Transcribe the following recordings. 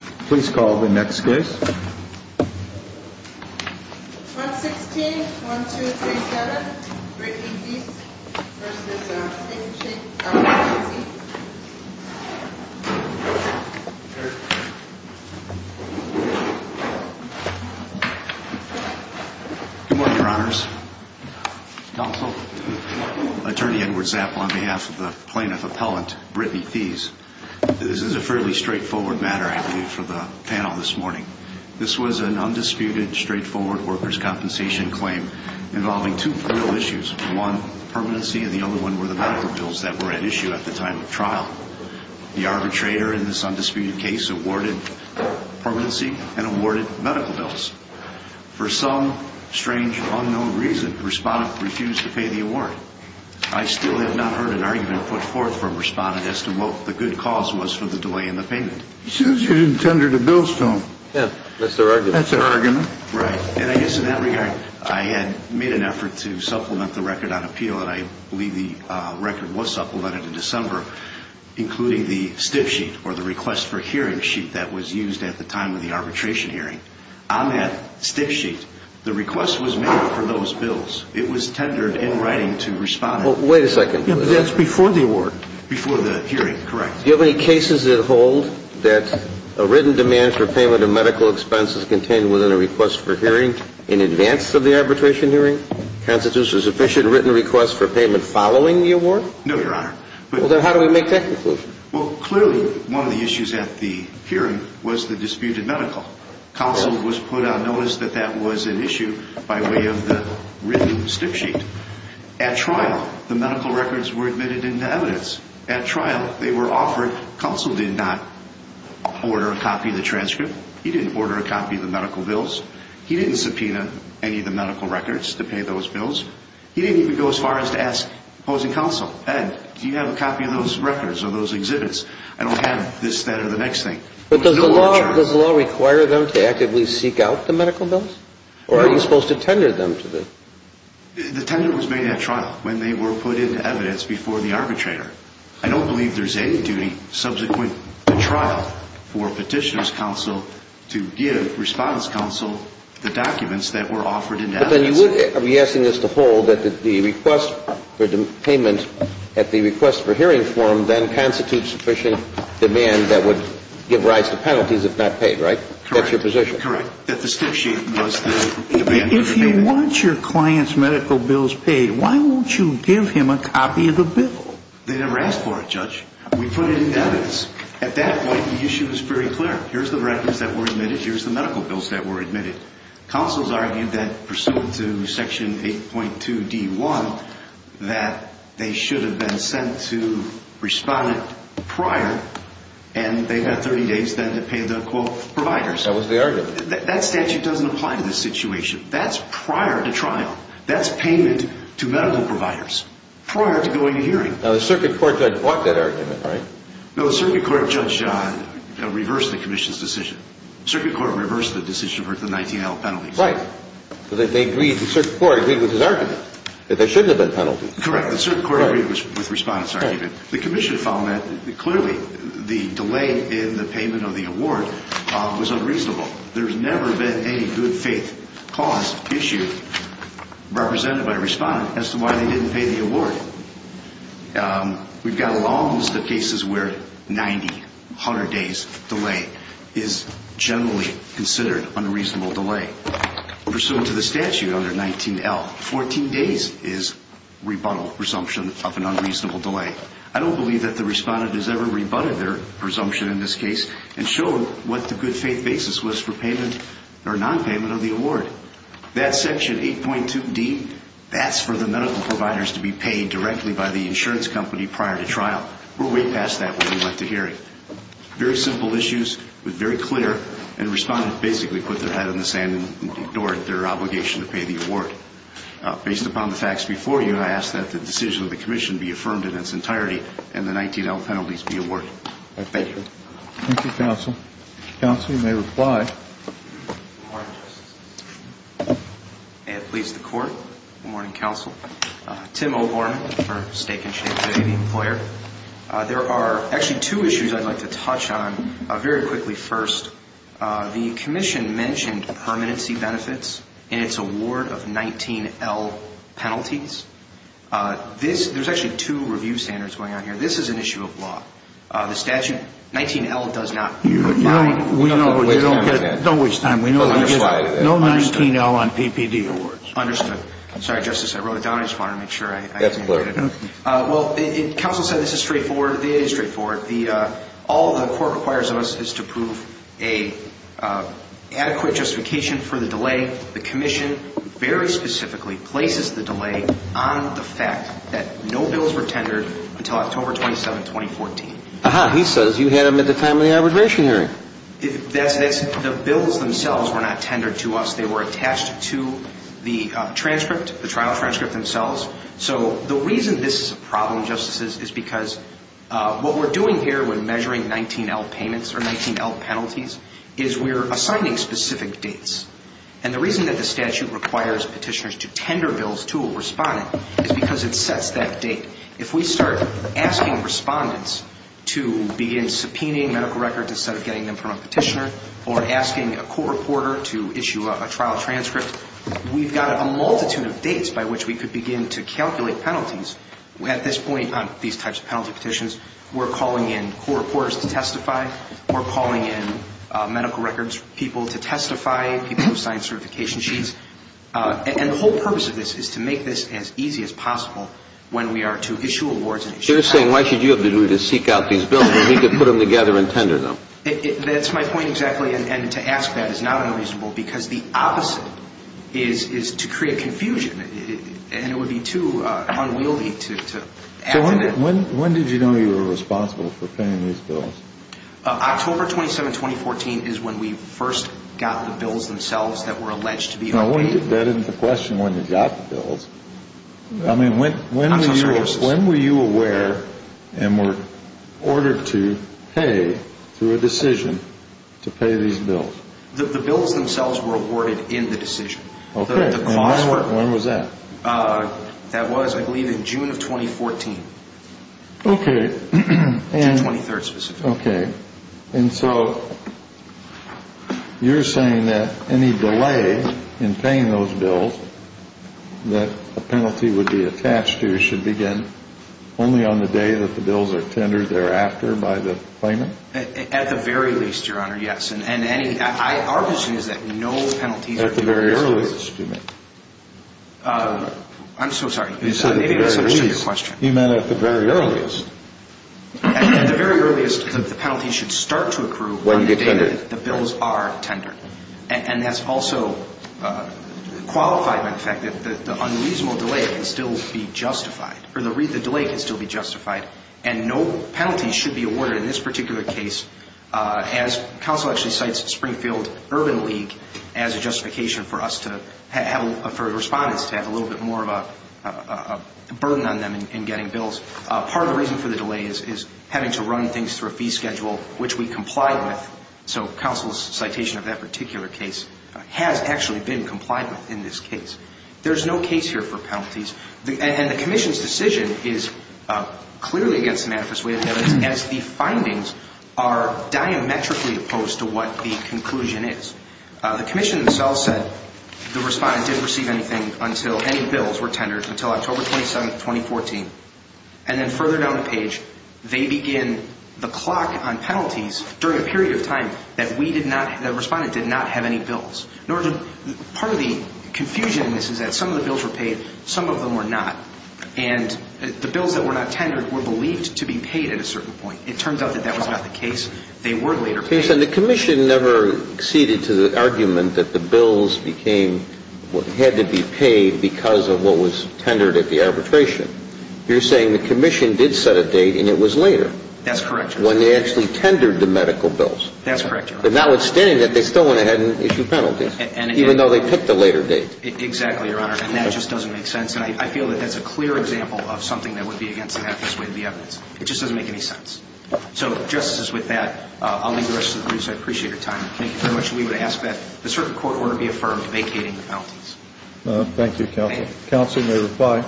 Please call the next case. 116-1237, Brittany Theis v. Stacey, LLC. Good morning, Your Honors. Counsel. Attorney Edward Zapp on behalf of the plaintiff appellant, Brittany Theis. This is a fairly straightforward matter, I believe, for the panel this morning. This was an undisputed, straightforward workers' compensation claim involving two criminal issues. One, permanency, and the other one were the medical bills that were at issue at the time of trial. The arbitrator in this undisputed case awarded permanency and awarded medical bills. For some strange, unknown reason, the respondent refused to pay the award. I still have not heard an argument put forth from respondent as to what the good cause was for the delay in the payment. As soon as you didn't tender the bill, Stone. Yeah, that's their argument. That's their argument. Right, and I guess in that regard, I had made an effort to supplement the record on appeal, and I believe the record was supplemented in December, including the stiff sheet, or the request for hearing sheet that was used at the time of the arbitration hearing. On that stiff sheet, the request was made for those bills. It was tendered in writing to respondent. Well, wait a second. Yeah, but that's before the award. Before the hearing, correct. Do you have any cases that hold that a written demand for payment of medical expenses contained within a request for hearing in advance of the arbitration hearing constitutes a sufficient written request for payment following the award? No, Your Honor. Well, then how do we make that conclusion? Well, clearly one of the issues at the hearing was the disputed medical. Counsel was put on notice that that was an issue by way of the written stiff sheet. At trial, the medical records were admitted into evidence. At trial, they were offered. Counsel did not order a copy of the transcript. He didn't order a copy of the medical bills. He didn't subpoena any of the medical records to pay those bills. He didn't even go as far as to ask opposing counsel, Ed, do you have a copy of those records or those exhibits? I don't have this, that, or the next thing. But does the law require them to actively seek out the medical bills? Or are you supposed to tender them to the? The tender was made at trial when they were put into evidence before the arbitrator. I don't believe there's any duty subsequent to trial for petitioner's counsel to give response counsel the documents that were offered in evidence. But then you would be asking us to hold that the request for payment at the request for hearing form then constitutes sufficient demand that would give rise to penalties if not paid, right? That's your position. Correct. That the stiff sheet was the demand. If you want your client's medical bills paid, why won't you give him a copy of the bill? They never asked for it, Judge. We put it in evidence. At that point, the issue was pretty clear. Here's the records that were admitted. Here's the medical bills that were admitted. Counsel's argued that pursuant to section 8.2D1 that they should have been sent to respondent prior, and they've got 30 days then to pay the, quote, providers. That was the argument. That statute doesn't apply to this situation. That's prior to trial. That's payment to medical providers prior to going to hearing. Now, the circuit court judge bought that argument, right? No, the circuit court judge reversed the commission's decision. Circuit court reversed the decision for the 19-year-old penalties. Right. Because they agreed, the circuit court agreed with his argument that there shouldn't have been penalties. Correct. The circuit court agreed with respondent's argument. The commission found that clearly the delay in the payment of the award was unreasonable. There's never been any good faith cause issue represented by a respondent as to why they didn't pay the award. We've got a long list of cases where 90, 100 days delay is generally considered unreasonable delay. Pursuant to the statute under 19L, 14 days is rebuttal presumption of an unreasonable delay. I don't believe that the respondent has ever rebutted their presumption in this case and shown what the good faith basis was for payment or nonpayment of the award. That section 8.2D, that's for the medical providers to be paid directly by the insurance company prior to trial. We're way past that when we went to hearing. Very simple issues with very clear and respondent basically put their head in the sand and ignored their obligation to pay the award. Based upon the facts before you, I ask that the decision of the commission be affirmed in its entirety and the 19L penalties be awarded. Thank you. Thank you, counsel. Counsel, you may reply. Good morning, justice. May it please the court. Good morning, counsel. Tim O'Gorman for Stake and Share today, the employer. There are actually two issues I'd like to touch on very quickly first. The commission mentioned permanency benefits in its award of 19L penalties. There's actually two review standards going on here. This is an issue of law. The statute 19L does not provide. Don't waste time. We know you get no 19L on PPD awards. Understood. Sorry, justice. I wrote it down. I just wanted to make sure. Well, counsel said this is straightforward. It is straightforward. All the court requires of us is to prove an adequate justification for the delay. The commission very specifically places the delay on the fact that no bills were tendered until October 27, 2014. Aha. He says you had them at the time of the arbitration hearing. The bills themselves were not tendered to us. They were attached to the transcript, the trial transcript themselves. So the reason this is a problem, justices, is because what we're doing here when measuring 19L payments or 19L penalties is we're assigning specific dates. And the reason that the statute requires petitioners to tender bills to a respondent is because it sets that date. If we start asking respondents to begin subpoenaing medical records instead of getting them from a petitioner or asking a court reporter to issue a trial transcript, we've got a multitude of dates by which we could begin to calculate penalties. At this point on these types of penalty petitions, we're calling in court reporters to testify. We're calling in medical records people to testify, people who've signed certification sheets. And the whole purpose of this is to make this as easy as possible when we are to issue awards and issue transcripts. You're saying why should you have to do to seek out these bills when we could put them together and tender them? That's my point exactly. And to ask that is not unreasonable because the opposite is to create confusion. When did you know you were responsible for paying these bills? October 27, 2014 is when we first got the bills themselves that were alleged to be. That isn't the question when you got the bills. I mean, when were you aware and were ordered to pay through a decision to pay these bills? The bills themselves were awarded in the decision. Okay. When was that? That was, I believe, in June of 2014. Okay. June 23rd specifically. Okay. And so you're saying that any delay in paying those bills that a penalty would be attached to should begin only on the day that the bills are tendered thereafter by the claimant? At the very least, Your Honor, yes. And our position is that no penalties are being issued. At the very earliest, excuse me. I'm so sorry. You said at the very least. Maybe I misunderstood your question. You meant at the very earliest. At the very earliest, the penalty should start to accrue on the day that the bills are tendered. And that's also qualified by the fact that the unreasonable delay can still be justified, or the delay can still be justified, and no penalties should be awarded in this particular case, as counsel actually cites Springfield Urban League as a justification for us to have, for respondents to have a little bit more of a burden on them in getting bills. Part of the reason for the delay is having to run things through a fee schedule, which we complied with. So counsel's citation of that particular case has actually been complied with in this case. There's no case here for penalties. And the commission's decision is clearly against the manifest way of evidence as the findings are diametrically opposed to what the conclusion is. The commission themselves said the respondent didn't receive anything until any bills were tendered until October 27th, 2014. And then further down the page, they begin the clock on penalties during a period of time that we did not, the respondent did not have any bills. In order to, part of the confusion in this is that some of the bills were paid, some of them were not. And the bills that were not tendered were believed to be paid at a certain point. It turns out that that was not the case. They were later paid. And the commission never acceded to the argument that the bills became, had to be paid because of what was tendered at the arbitration. You're saying the commission did set a date and it was later. That's correct, Your Honor. That's correct, Your Honor. But notwithstanding that, they still went ahead and issued penalties, even though they picked a later date. Exactly, Your Honor. And that just doesn't make sense. And I feel that that's a clear example of something that would be against the manifest way of the evidence. It just doesn't make any sense. So, Justices, with that, I'll leave the rest of the briefs. I appreciate your time. Thank you very much. We would ask that the circuit court order be affirmed vacating the penalties. Thank you, Counsel. Counsel, you may reply.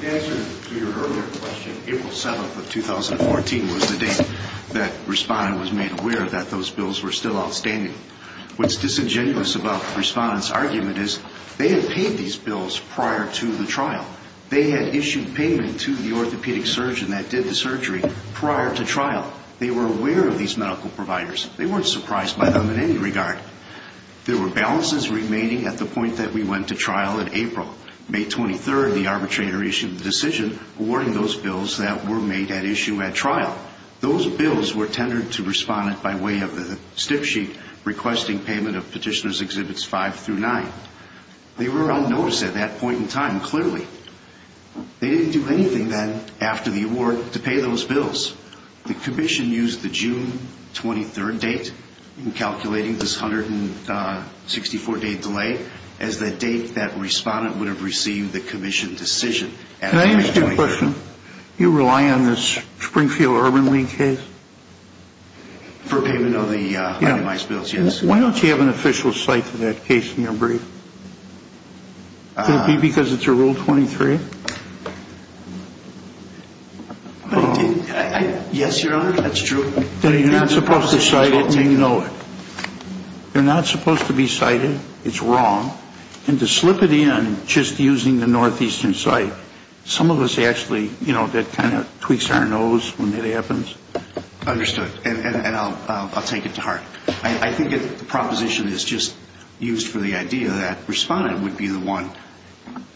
The answer to your earlier question, April 7th of 2014, was the date that Respondent was made aware that those bills were still outstanding. What's disingenuous about Respondent's argument is they had paid these bills prior to the trial. They had issued payment to the orthopedic surgeon that did the surgery prior to trial. They were aware of these medical providers. They weren't surprised by them in any regard. There were balances remaining at the point that we went to trial in April. May 23rd, the arbitrator issued the decision awarding those bills that were made at issue at trial. Those bills were tendered to Respondent by way of the stiff sheet requesting payment of Petitioners' Exhibits 5 through 9. They were unnoticed at that point in time, clearly. They didn't do anything then after the award to pay those bills. The Commission used the June 23rd date in calculating this 164-day delay as the date that Respondent would have received the Commission decision. Can I ask you a question? Do you rely on this Springfield Urban League case? For payment of the itemized bills, yes. Why don't you have an official site for that case in your brief? Could it be because it's a Rule 23? Yes, Your Honor, that's true. Then you're not supposed to cite it when you know it. You're not supposed to be cited. It's wrong. And to slip it in just using the northeastern site, some of us actually, you know, that kind of tweaks our nose when that happens. Understood. And I'll take it to heart. I think the proposition is just used for the idea that Respondent would be the one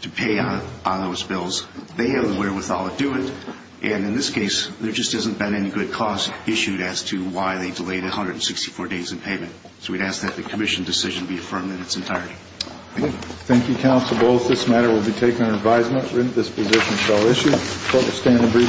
to pay on those bills. They have the wherewithal to do it. And in this case, there just hasn't been any good cause issued as to why they delayed 164 days in payment. So we'd ask that the Commission decision be affirmed in its entirety. Thank you. Thank you, counsel. Both this matter will be taken under advisement. Written disposition shall issue.